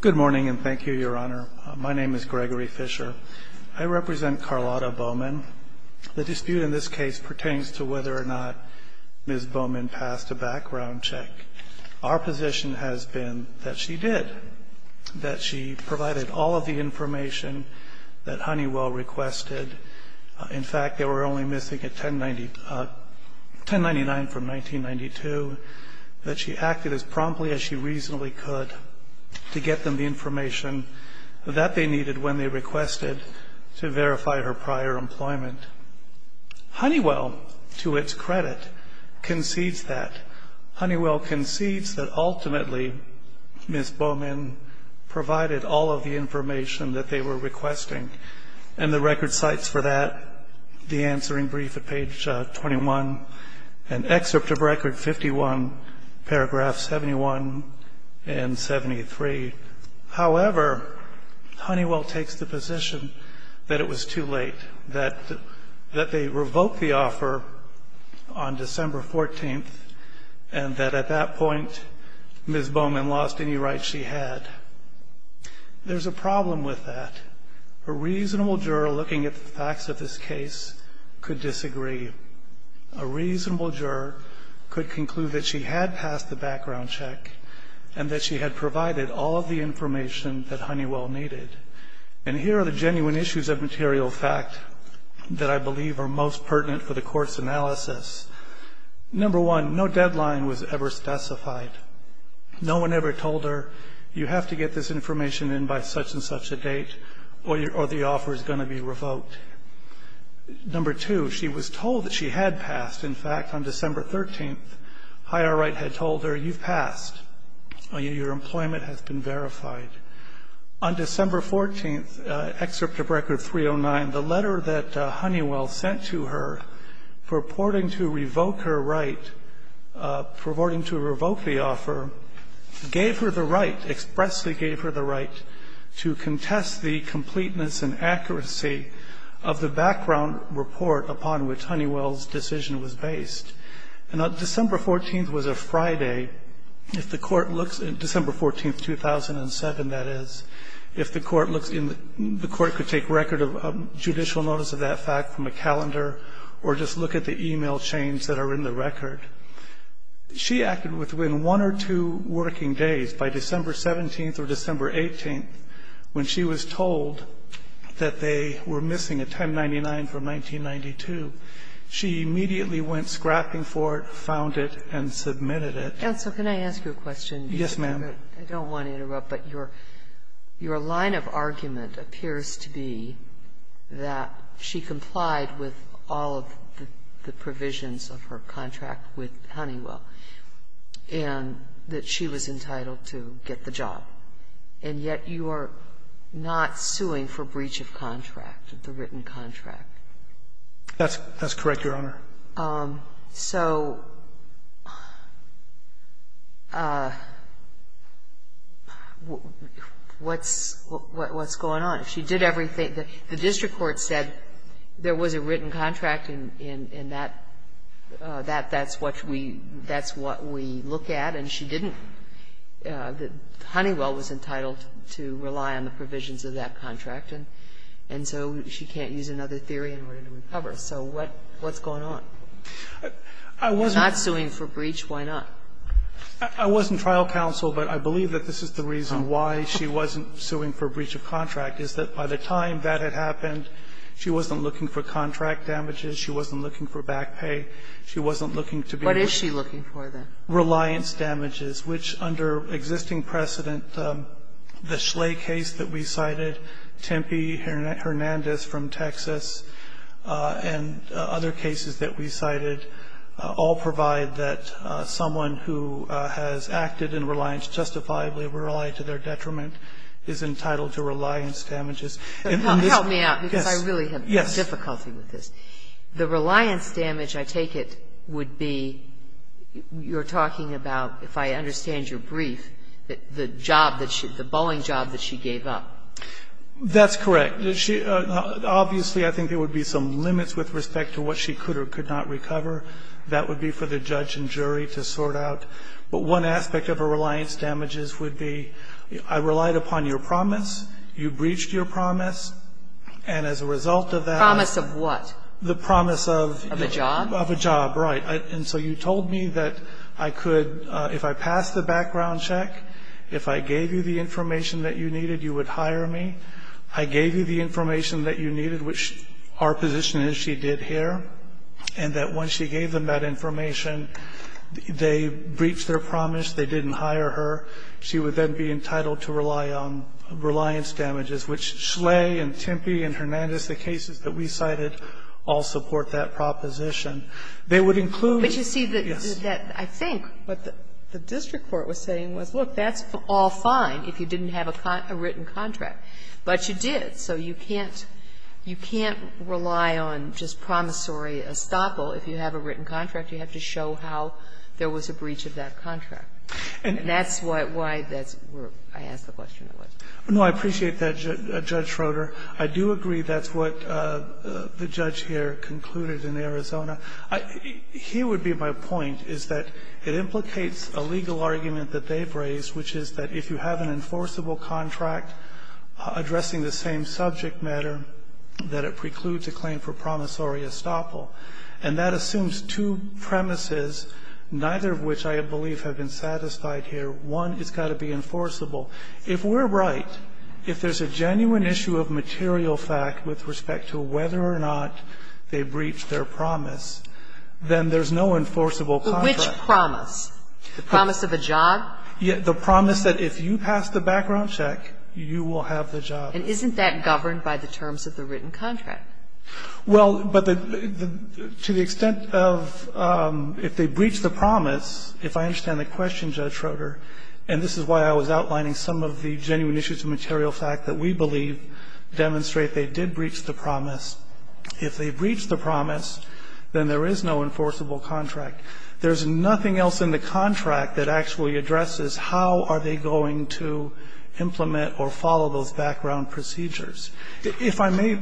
Good morning and thank you, Your Honor. My name is Gregory Fisher. I represent Carlotta Bowman. The dispute in this case pertains to whether or not Ms. Bowman passed a background check. Our position has been that she did. That she provided all of the information that Honeywell requested. In fact, they were only missing a 1099 from 1992. That she acted as promptly as she reasonably could to get them the information that they needed when they requested to verify her prior employment. Honeywell, to its credit, concedes that. Honeywell concedes that ultimately Ms. Bowman provided all of the information that they were requesting. And the record cites for that the answering brief at page 21. An excerpt of record 51, paragraphs 71 and 73. However, Honeywell takes the position that it was too late. That they revoked the offer on December 14th and that at that point Ms. Bowman lost any rights she had. There's a problem with that. A reasonable juror looking at the facts of this case could disagree. A reasonable juror could conclude that she had passed the background check and that she had provided all of the information that Honeywell needed. And here are the genuine issues of material fact that I believe are most pertinent for the court's analysis. Number one, no deadline was ever specified. No one ever told her, you have to get this information in by such and such a date or the offer is going to be revoked. Number two, she was told that she had passed. In fact, on December 13th, higher right had told her, you've passed. Your employment has been verified. On December 14th, excerpt of record 309, the letter that Honeywell sent to her purporting to revoke her right, purporting to revoke the offer, gave her the right, expressly gave her the right to contest the completeness and accuracy of the background report upon which Honeywell's decision was based. And on December 14th was a Friday. If the court looks, December 14th, 2007, that is, if the court looks in, the court could take record of judicial notice of that fact from a calendar or just look at the e-mail chains that are in the record. She acted within one or two working days by December 17th or December 18th when she was told that they were missing a 1099 from 1992. She immediately went scrapping for it, found it, and submitted it. Sotomayor, can I ask you a question? Yes, ma'am. I don't want to interrupt, but your line of argument appears to be that she complied with all of the provisions of her contract with Honeywell and that she was entitled to get the job, and yet you are not suing for breach of contract, the written contract. That's correct, Your Honor. So what's going on? She did everything. The district court said there was a written contract, and that's what we look at, and she didn't. Honeywell was entitled to rely on the provisions of that contract, and so she can't use another theory in order to recover. So what's going on? If she's not suing for breach, why not? I wasn't trial counsel, but I believe that this is the reason why she wasn't suing for breach of contract, is that by the time that had happened, she wasn't looking for contract damages. She wasn't looking for back pay. She wasn't looking to be able to be reliant. What is she looking for, then? Reliance damages, which under existing precedent, the Schley case that we cited, Tempe, Hernandez from Texas, and other cases that we cited all provide that someone who has acted in reliance justifiably, were relied to their detriment, is entitled to reliance damages. Help me out, because I really have difficulty with this. The reliance damage, I take it, would be you're talking about, if I understand your brief, the job that she – the Boeing job that she gave up. That's correct. Obviously, I think there would be some limits with respect to what she could or could not recover. That would be for the judge and jury to sort out. But one aspect of a reliance damages would be I relied upon your promise. You breached your promise. And as a result of that – Promise of what? The promise of – Of a job? Of a job, right. And so you told me that I could – if I passed the background check, if I gave you the information that you needed, you would hire me. I gave you the information that you needed, which our position is she did here. And that when she gave them that information, they breached their promise. They didn't hire her. She would then be entitled to rely on reliance damages, which Schley and Tempe and Hernandez, the cases that we cited, all support that proposition. They would include – But you see that – Yes. I think what the district court was saying was, look, that's all fine if you didn't have a written contract. But you did. So you can't rely on just promissory estoppel if you have a written contract. You have to show how there was a breach of that contract. And that's why that's where I asked the question was. No, I appreciate that, Judge Schroeder. I do agree that's what the judge here concluded in Arizona. Here would be my point, is that it implicates a legal argument that they've raised, which is that if you have an enforceable contract addressing the same subject matter, that it precludes a claim for promissory estoppel. And that assumes two premises, neither of which I believe have been satisfied One, it's got to be enforceable. If we're right, if there's a genuine issue of material fact with respect to whether or not they breached their promise, then there's no enforceable contract. But which promise? The promise of a job? The promise that if you pass the background check, you will have the job. And isn't that governed by the terms of the written contract? Well, but the – to the extent of if they breached the promise, if I understand the question, Judge Schroeder, and this is why I was outlining some of the genuine issues of material fact that we believe demonstrate they did breach the promise, if they breached the promise, then there is no enforceable contract. There's nothing else in the contract that actually addresses how are they going to implement or follow those background procedures. If I may,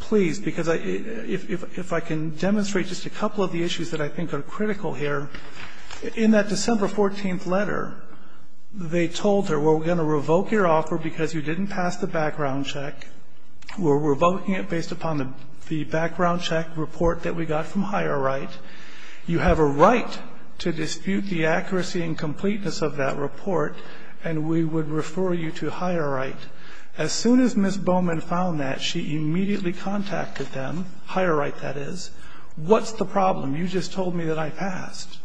please, because I – if I can demonstrate just a couple of the issues that I think are critical here. In that December 14th letter, they told her, well, we're going to revoke your offer because you didn't pass the background check. We're revoking it based upon the background check report that we got from Higher Right. You have a right to dispute the accuracy and completeness of that report, and we would refer you to Higher Right. As soon as Ms. Bowman found that, she immediately contacted them, Higher Right, that is, what's the problem? You just told me that I passed.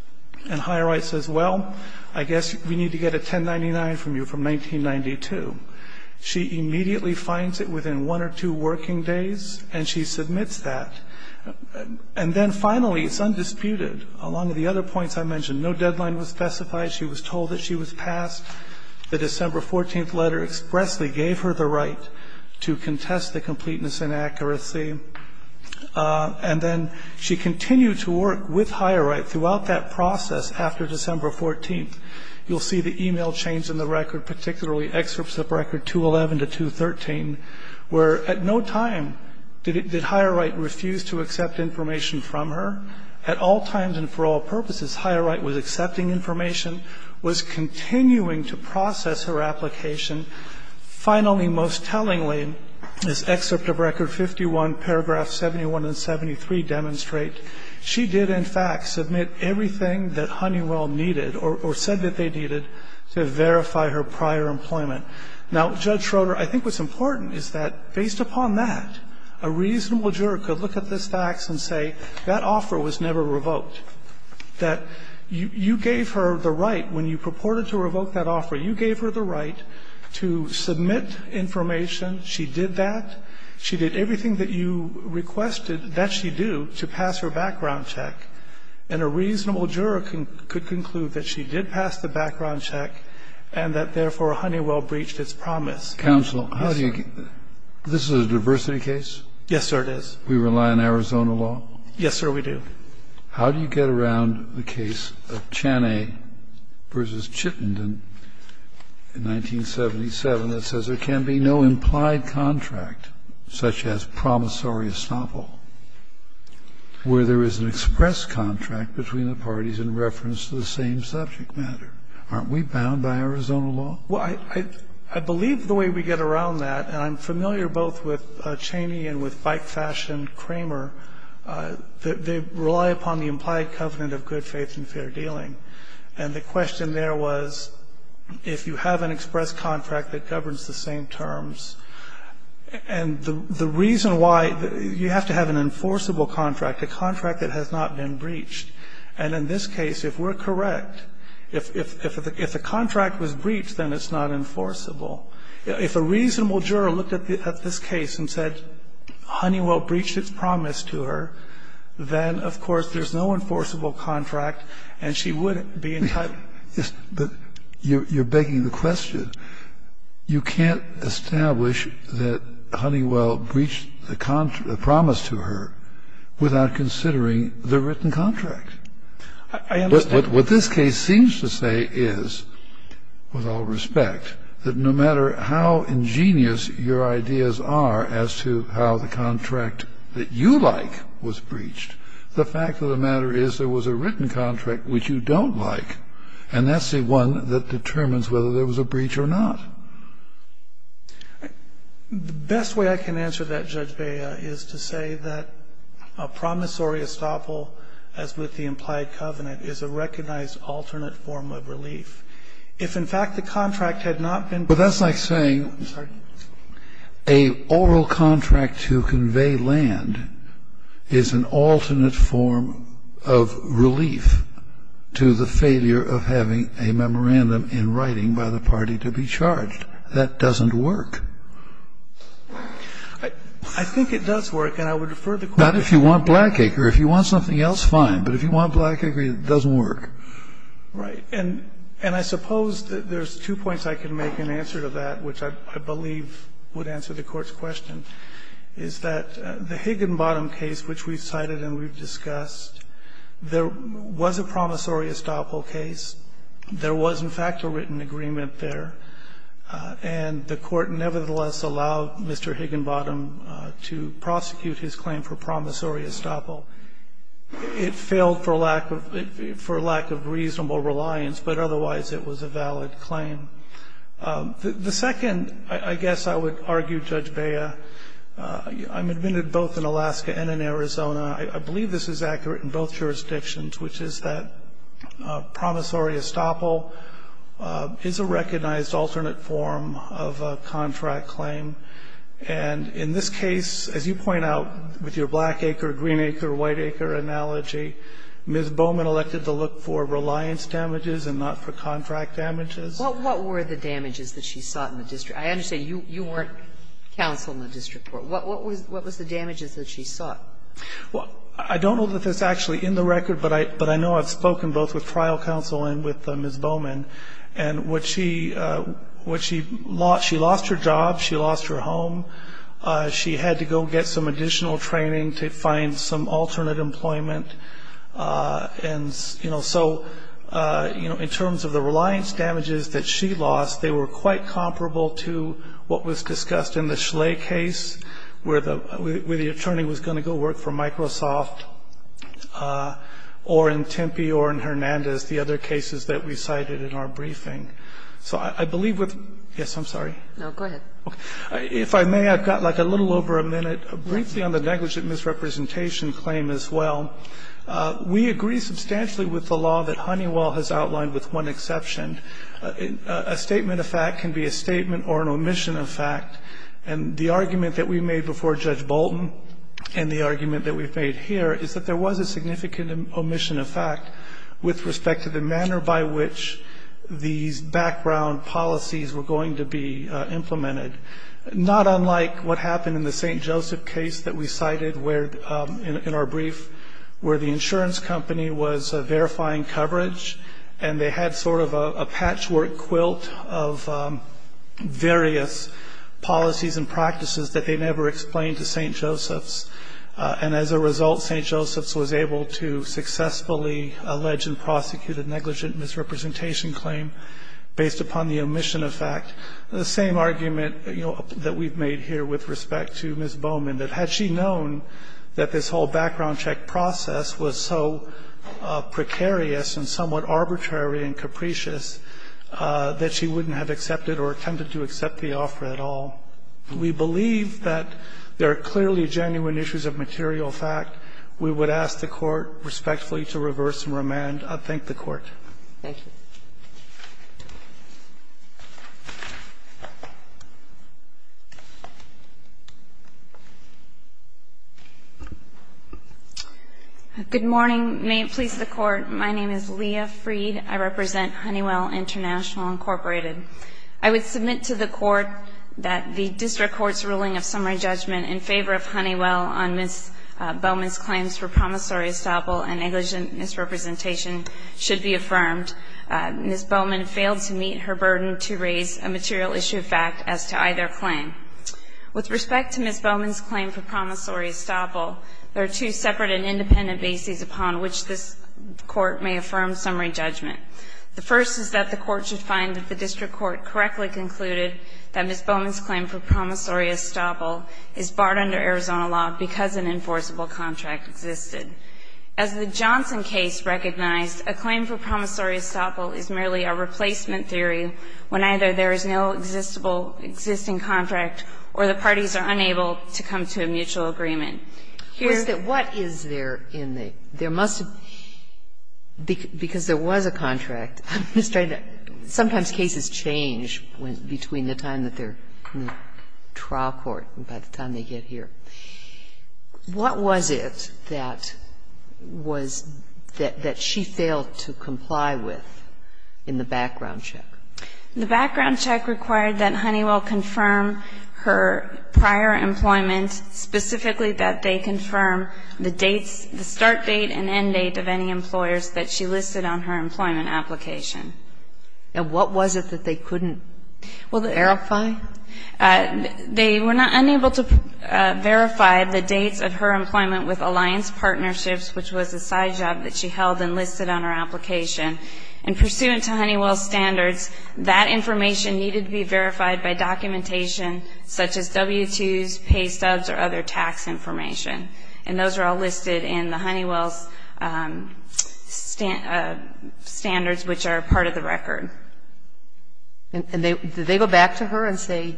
And Higher Right says, well, I guess we need to get a 1099 from you from 1992. She immediately finds it within one or two working days, and she submits that. And then finally, it's undisputed. Along with the other points I mentioned, no deadline was specified. She was told that she was passed. The December 14th letter expressly gave her the right to contest the completeness and accuracy. And then she continued to work with Higher Right throughout that process after December 14th. You'll see the e-mail change in the record, particularly excerpts of record 211 to 213, where at no time did Higher Right refuse to accept information from her. At all times and for all purposes, Higher Right was accepting information, was continuing to process her application. Finally, most tellingly, this excerpt of record 51, paragraph 71 and 73 demonstrate she did, in fact, submit everything that Honeywell needed or said that they needed to verify her prior employment. Now, Judge Schroeder, I think what's important is that based upon that, a reasonable juror could look at this fax and say that offer was never revoked, that you gave her the right when you purported to revoke that offer, you gave her the right to submit information. She did that. She did everything that you requested that she do to pass her background check. And a reasonable juror could conclude that she did pass the background check and that, therefore, Honeywell breached its promise. Kennedy, this is a diversity case? Yes, sir, it is. We rely on Arizona law? Yes, sir, we do. I'm just wondering how do you get around the case of Chaney v. Chittenden in 1977 that says there can be no implied contract, such as promissory estoppel, where there is an express contract between the parties in reference to the same subject matter? Aren't we bound by Arizona law? Well, I believe the way we get around that, and I'm familiar both with Chaney and with bike-fashioned Kramer, they rely upon the implied covenant of good faith and fair dealing. And the question there was if you have an express contract that governs the same terms, and the reason why you have to have an enforceable contract, a contract that has not been breached. And in this case, if we're correct, if a contract was breached, then it's not enforceable. If a reasonable juror looked at this case and said Honeywell breached its promise to her, then, of course, there's no enforceable contract, and she would be entitled to it. But you're begging the question. You can't establish that Honeywell breached the promise to her without considering the written contract. I understand. What this case seems to say is, with all respect, that no matter how ingenious your ideas are as to how the contract that you like was breached, the fact of the matter is there was a written contract which you don't like. And that's the one that determines whether there was a breach or not. The best way I can answer that, Judge Bea, is to say that a promissory estoppel as with the implied covenant is a recognized alternate form of relief. If, in fact, the contract had not been breached. But that's like saying a oral contract to convey land is an alternate form of relief to the failure of having a memorandum in writing by the party to be charged. That doesn't work. I think it does work, and I would defer the question. It's not if you want Blackacre. If you want something else, fine. But if you want Blackacre, it doesn't work. Right. And I suppose there's two points I can make in answer to that which I believe would answer the Court's question, is that the Higginbottom case, which we've cited and we've discussed, there was a promissory estoppel case. There was, in fact, a written agreement there. And the Court nevertheless allowed Mr. Higginbottom to prosecute his claim for promissory estoppel. It failed for lack of reasonable reliance, but otherwise it was a valid claim. The second, I guess I would argue, Judge Bea, I'm admitted both in Alaska and in Arizona. I believe this is accurate in both jurisdictions, which is that promissory estoppel is a recognized alternate form of a contract claim. And in this case, as you point out with your Blackacre, Greenacre, Whiteacre analogy, Ms. Bowman elected to look for reliance damages and not for contract damages. What were the damages that she sought in the district? I understand you weren't counsel in the district court. What was the damages that she sought? Well, I don't know that that's actually in the record, but I know I've spoken both with trial counsel and with Ms. Bowman. And what she lost, she lost her job. She lost her home. She had to go get some additional training to find some alternate employment. And so in terms of the reliance damages that she lost, they were quite comparable to what was discussed in the Schley case where the attorney was going to go work for Microsoft or in Tempe or in Hernandez, the other cases that we cited in our briefing. So I believe with – yes, I'm sorry. No, go ahead. If I may, I've got like a little over a minute briefly on the negligent misrepresentation claim as well. We agree substantially with the law that Honeywell has outlined with one exception. A statement of fact can be a statement or an omission of fact. And the argument that we made before Judge Bolton and the argument that we've made here is that there was a significant omission of fact with respect to the manner by which these background policies were going to be implemented, not unlike what happened in the St. Joseph case that we cited in our brief, where the insurance company was verifying coverage and they had sort of a patchwork quilt of various policies and practices that they never explained to St. Joseph's. And as a result, St. Joseph's was able to successfully allege and prosecute a negligent misrepresentation claim based upon the omission of fact. The same argument that we've made here with respect to Ms. Bowman, that had she known that this whole background check process was so precarious and somewhat arbitrary and capricious that she wouldn't have accepted or attempted to accept the offer at all. We believe that there are clearly genuine issues of material fact. We would ask the Court respectfully to reverse and remand. I thank the Court. Thank you. Good morning. May it please the Court. My name is Leah Freed. I represent Honeywell International, Incorporated. I would submit to the Court that the district court's ruling of summary judgment in favor of Honeywell on Ms. Bowman's claims for promissory estoppel and negligent misrepresentation should be affirmed. Ms. Bowman failed to meet her burden to raise a material issue of fact as to either claim. With respect to Ms. Bowman's claim for promissory estoppel, there are two separate and independent bases upon which this Court may affirm summary judgment. The first is that the Court should find that the district court correctly concluded that Ms. Bowman's claim for promissory estoppel is barred under Arizona law because an enforceable contract existed. As the Johnson case recognized, a claim for promissory estoppel is merely a replacement theory when either there is no existable existing contract or the parties are unable to come to a mutual agreement. Here's the question. Because there was a contract, sometimes cases change between the time that they're in the trial court and by the time they get here. What was it that was that she failed to comply with in the background check? The background check required that Honeywell confirm her prior employment, specifically that they confirm the dates, the start date and end date of any employers that she listed on her employment application. And what was it that they couldn't verify? They were unable to verify the dates of her employment with Alliance Partnerships, which was a side job that she held and listed on her application. And pursuant to Honeywell's standards, that information needed to be verified by documentation such as W-2s, pay stubs or other tax information. And those are all listed in the Honeywell's standards, which are part of the record. And did they go back to her and say,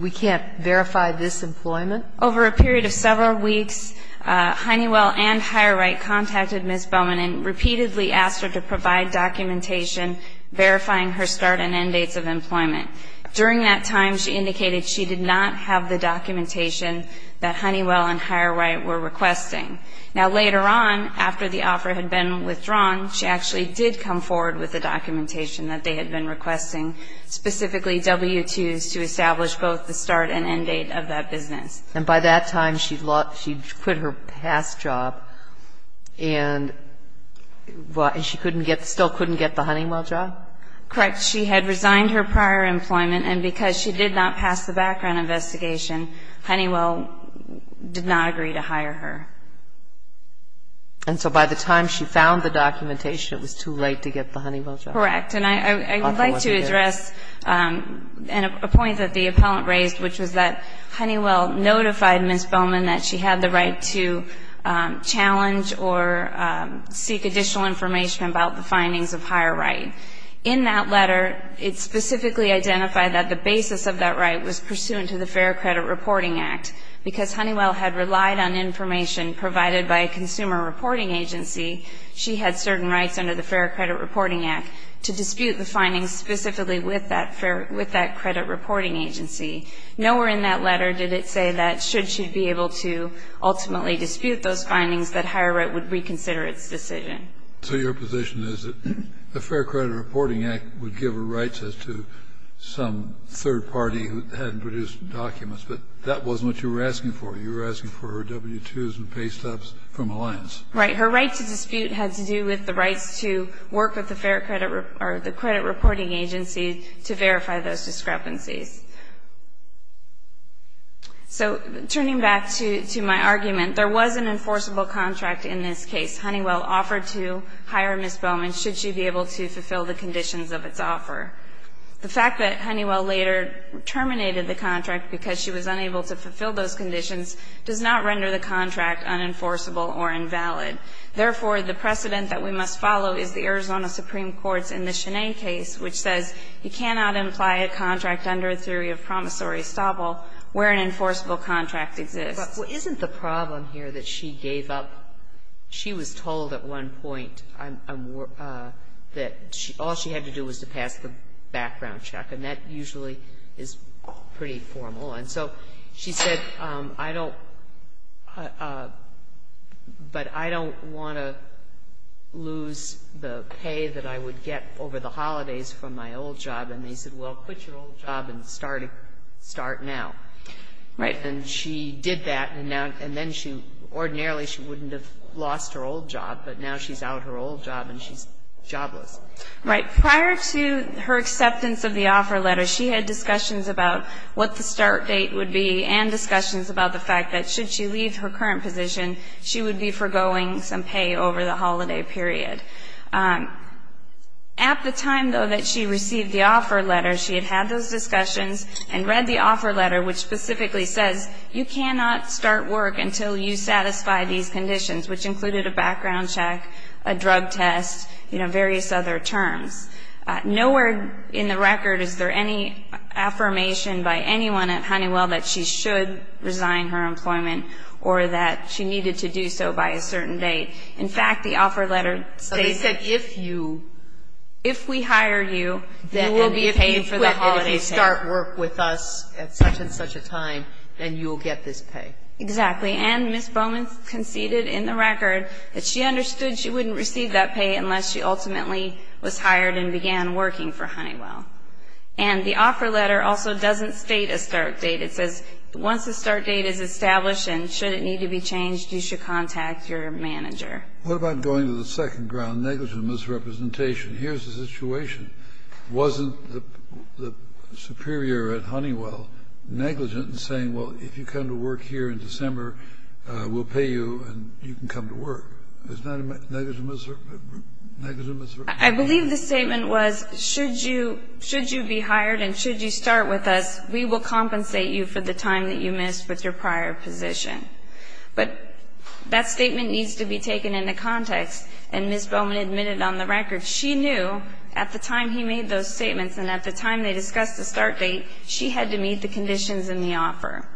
we can't verify this employment? Over a period of several weeks, Honeywell and Higher Right contacted Ms. Bowman and repeatedly asked her to provide documentation verifying her start and end dates of employment. During that time, she indicated she did not have the documentation that Honeywell and Higher Right were requesting. Now, later on, after the offer had been withdrawn, she actually did come forward with the documentation that they had been requesting, specifically W-2s to establish both the start and end date of that business. And by that time, she'd quit her past job, and she still couldn't get the Honeywell job? Correct. She had resigned her prior employment, and because she did not pass the background investigation, Honeywell did not agree to hire her. And so by the time she found the documentation, it was too late to get the Honeywell job? Correct. And I would like to address a point that the appellant raised, which was that Honeywell notified Ms. Bowman that she had the right to challenge or seek additional information about the findings of Higher Right. In that letter, it specifically identified that the basis of that right was pursuant to the Fair Credit Reporting Act. Because Honeywell had relied on information provided by a consumer reporting agency, she had certain rights under the Fair Credit Reporting Act to dispute the findings specifically with that credit reporting agency. Nowhere in that letter did it say that should she be able to ultimately dispute those findings, that Higher Right would reconsider its decision. So your position is that the Fair Credit Reporting Act would give her rights as to some third party who hadn't produced documents, but that wasn't what you were asking for. You were asking for her W-2s and pay stubs from Alliance. Right. Her right to dispute had to do with the rights to work with the credit reporting agency to verify those discrepancies. So turning back to my argument, there was an enforceable contract in this case. Honeywell offered to hire Ms. Bowman should she be able to fulfill the conditions of its offer. The fact that Honeywell later terminated the contract because she was unable to fulfill those conditions does not render the contract unenforceable or invalid. Therefore, the precedent that we must follow is the Arizona Supreme Court's which says you cannot imply a contract under a theory of promissory estoppel where an enforceable contract exists. But isn't the problem here that she gave up? She was told at one point that all she had to do was to pass the background check, and that usually is pretty formal. And so she said, I don't, but I don't want to lose the pay that I would get for over the holidays from my old job. And they said, well, quit your old job and start now. Right. And she did that, and now, and then she, ordinarily she wouldn't have lost her old job, but now she's out her old job and she's jobless. Right. Prior to her acceptance of the offer letter, she had discussions about what the start date would be and discussions about the fact that should she leave her current position, she would be forgoing some pay over the holiday period. At the time, though, that she received the offer letter, she had had those discussions and read the offer letter, which specifically says, you cannot start work until you satisfy these conditions, which included a background check, a drug test, you know, various other terms. Nowhere in the record is there any affirmation by anyone at Honeywell that she should resign her employment or that she needed to do so by a certain date. In fact, the offer letter states that if you, if we hire you, you will be paid for And if you quit, if you start work with us at such and such a time, then you will get this pay. Exactly. And Ms. Bowman conceded in the record that she understood she wouldn't receive that pay unless she ultimately was hired and began working for Honeywell. And the offer letter also doesn't state a start date. It says, once the start date is established and should it need to be changed, you should contact your manager. What about going to the second ground, negligent misrepresentation? Here's the situation. Wasn't the superior at Honeywell negligent in saying, well, if you come to work here in December, we'll pay you and you can come to work? Isn't that a negligent misrepresentation? I believe the statement was, should you, should you be hired and should you start with us, we will compensate you for the time that you missed with your prior position. But that statement needs to be taken into context, and Ms. Bowman admitted on the record she knew at the time he made those statements and at the time they discussed the start date, she had to meet the conditions in the offer.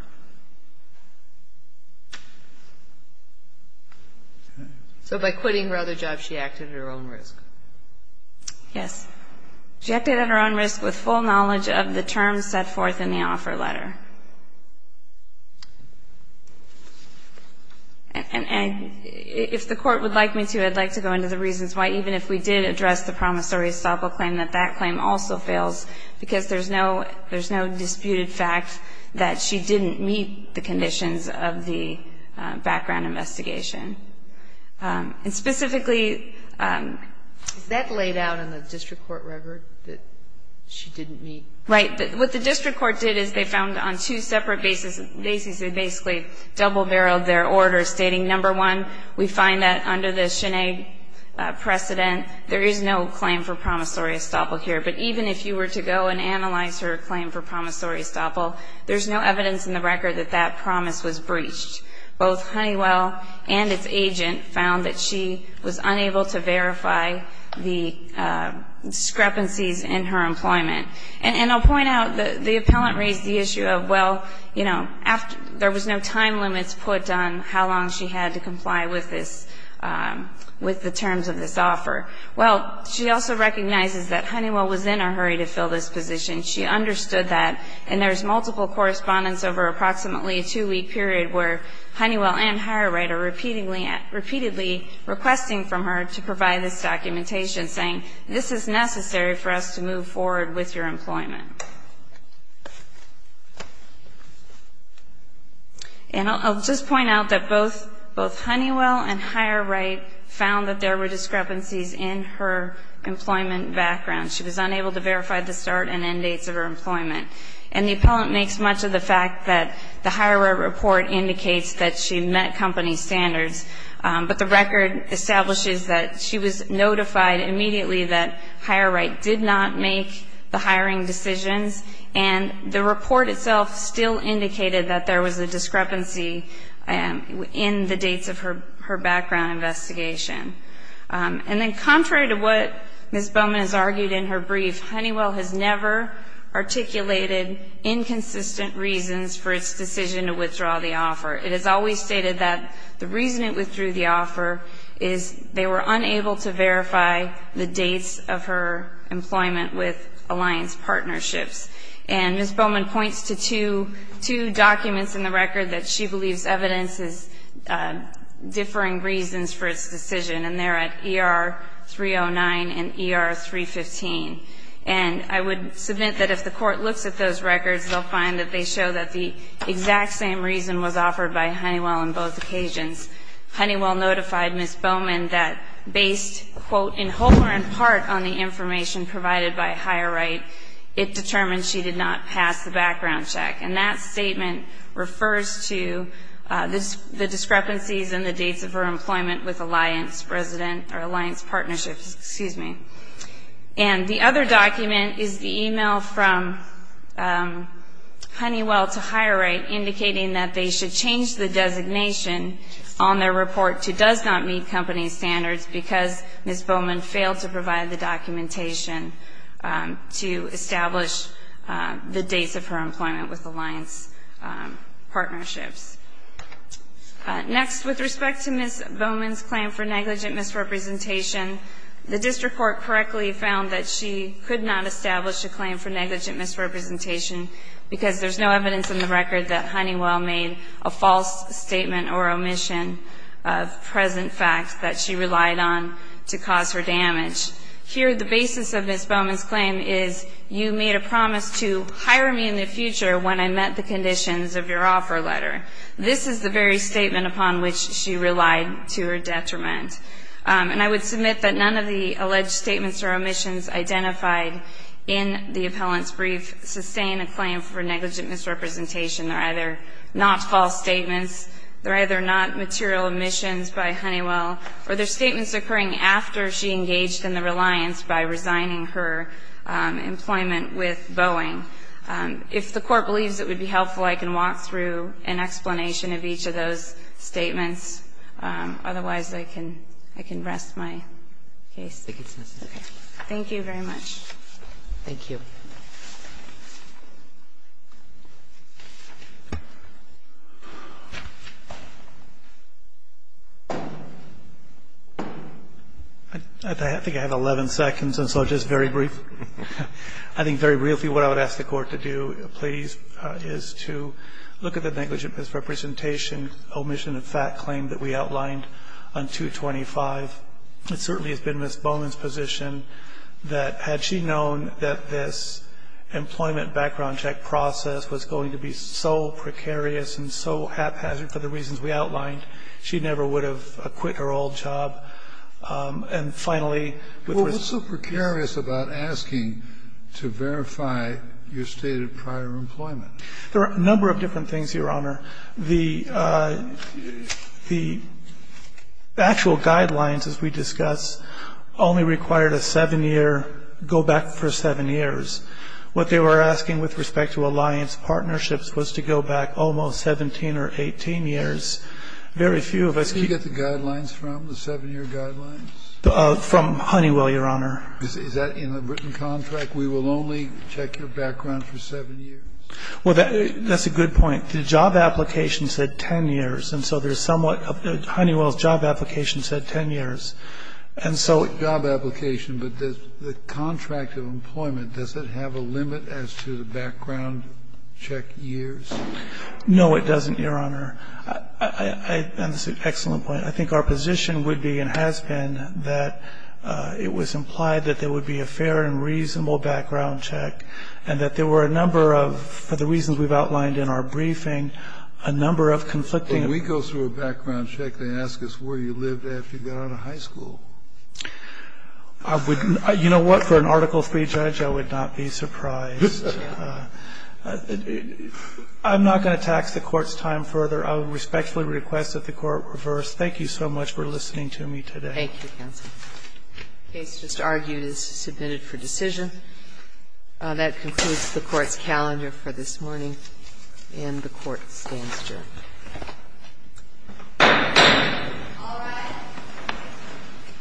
So by quitting her other job, she acted at her own risk. Yes. She acted at her own risk with full knowledge of the terms set forth in the And if the Court would like me to, I'd like to go into the reasons why even if we did address the promissory estoppel claim, that that claim also fails, because there's no disputed fact that she didn't meet the conditions of the background investigation. And specifically ---- Is that laid out in the district court record, that she didn't meet? Right. What the district court did is they found on two separate bases, they basically double-barreled their order stating, number one, we find that under the Sinead precedent, there is no claim for promissory estoppel here. But even if you were to go and analyze her claim for promissory estoppel, there's no evidence in the record that that promise was breached. Both Honeywell and its agent found that she was unable to verify the discrepancies in her employment. And I'll point out the appellant raised the issue of, well, you know, there was no time limits put on how long she had to comply with this, with the terms of this offer. Well, she also recognizes that Honeywell was in a hurry to fill this position. She understood that. And there's multiple correspondence over approximately a two-week period where Honeywell and HireRight are repeatedly requesting from her to provide this documentation saying, this is necessary for us to move forward with your employment. And I'll just point out that both Honeywell and HireRight found that there were discrepancies in her employment background. She was unable to verify the start and end dates of her employment. And the appellant makes much of the fact that the HireRight report indicates that she met company standards. But the record establishes that she was notified immediately that HireRight did not make the hiring decisions. And the report itself still indicated that there was a discrepancy in the dates of her background investigation. And then contrary to what Ms. Bowman has argued in her brief, Honeywell has never articulated inconsistent reasons for its decision to withdraw the offer. It is always stated that the reason it withdrew the offer is they were unable to verify the dates of her employment with Alliance Partnerships. And Ms. Bowman points to two documents in the record that she believes evidence is differing reasons for its decision. And they're at ER-309 and ER-315. And I would submit that if the court looks at those records, they'll find that they show that the exact same reason was offered by Honeywell on both occasions. Honeywell notified Ms. Bowman that based, quote, in whole or in part on the information provided by HireRight, it determined she did not pass the background check. And that statement refers to the discrepancies in the dates of her employment with Alliance Partnerships. And the other document is the e-mail from Honeywell to HireRight indicating that they should change the designation on their report to does not meet company standards because Ms. Bowman failed to provide the documentation to establish the dates of her employment with Alliance Partnerships. Next, with respect to Ms. Bowman's claim for negligent misrepresentation, the district court correctly found that she could not establish a claim for negligent misrepresentation because there's no evidence in the record that Honeywell made a false statement or omission of present facts that she relied on to cause her damage. Here the basis of Ms. Bowman's claim is you made a promise to hire me in the future. This is the very statement upon which she relied to her detriment. And I would submit that none of the alleged statements or omissions identified in the appellant's brief sustain a claim for negligent misrepresentation. They're either not false statements, they're either not material omissions by Honeywell, or they're statements occurring after she engaged in the reliance by Honeywell on the claim to hire her. Next, there are no allegations of negligent misrepresentation. I think I have 11 seconds, so just very briefly. I think very briefly what I would ask the court to do, please, is to look at the negligent misrepresentation, omission of fact claim that we outlined on 225. It certainly has been Ms. Bowman's position that had she known that this employment background check process was going to be so precarious and so haphazard for the reasons we outlined, she never would have quit her old job. And finally, with respect to the case. Well, what's so precarious about asking to verify your stated prior employment? There are a number of different things, Your Honor. The actual guidelines, as we discussed, only required a 7-year go-back for 7 years. What they were asking with respect to alliance partnerships was to go back almost 17 or 18 years. Very few of us can get the guidelines from, the 7-year guidelines? From Honeywell, Your Honor. Is that in the written contract, we will only check your background for 7 years? Well, that's a good point. The job application said 10 years. And so there's somewhat, Honeywell's job application said 10 years. And so. Job application, but the contract of employment, does it have a limit as to the background check years? No, it doesn't, Your Honor. And it's an excellent point. I think our position would be and has been that it was implied that there would be a fair and reasonable background check. And that there were a number of, for the reasons we've outlined in our briefing, a number of conflicting. But when we go through a background check, they ask us where you lived after you got out of high school. I wouldn't. You know what? For an Article III judge, I would not be surprised. I'm not going to tax the Court's time further. I respectfully request that the Court reverse. Thank you so much for listening to me today. Thank you, counsel. The case just argued is submitted for decision. That concludes the Court's calendar for this morning and the Court stands adjourned. All rise.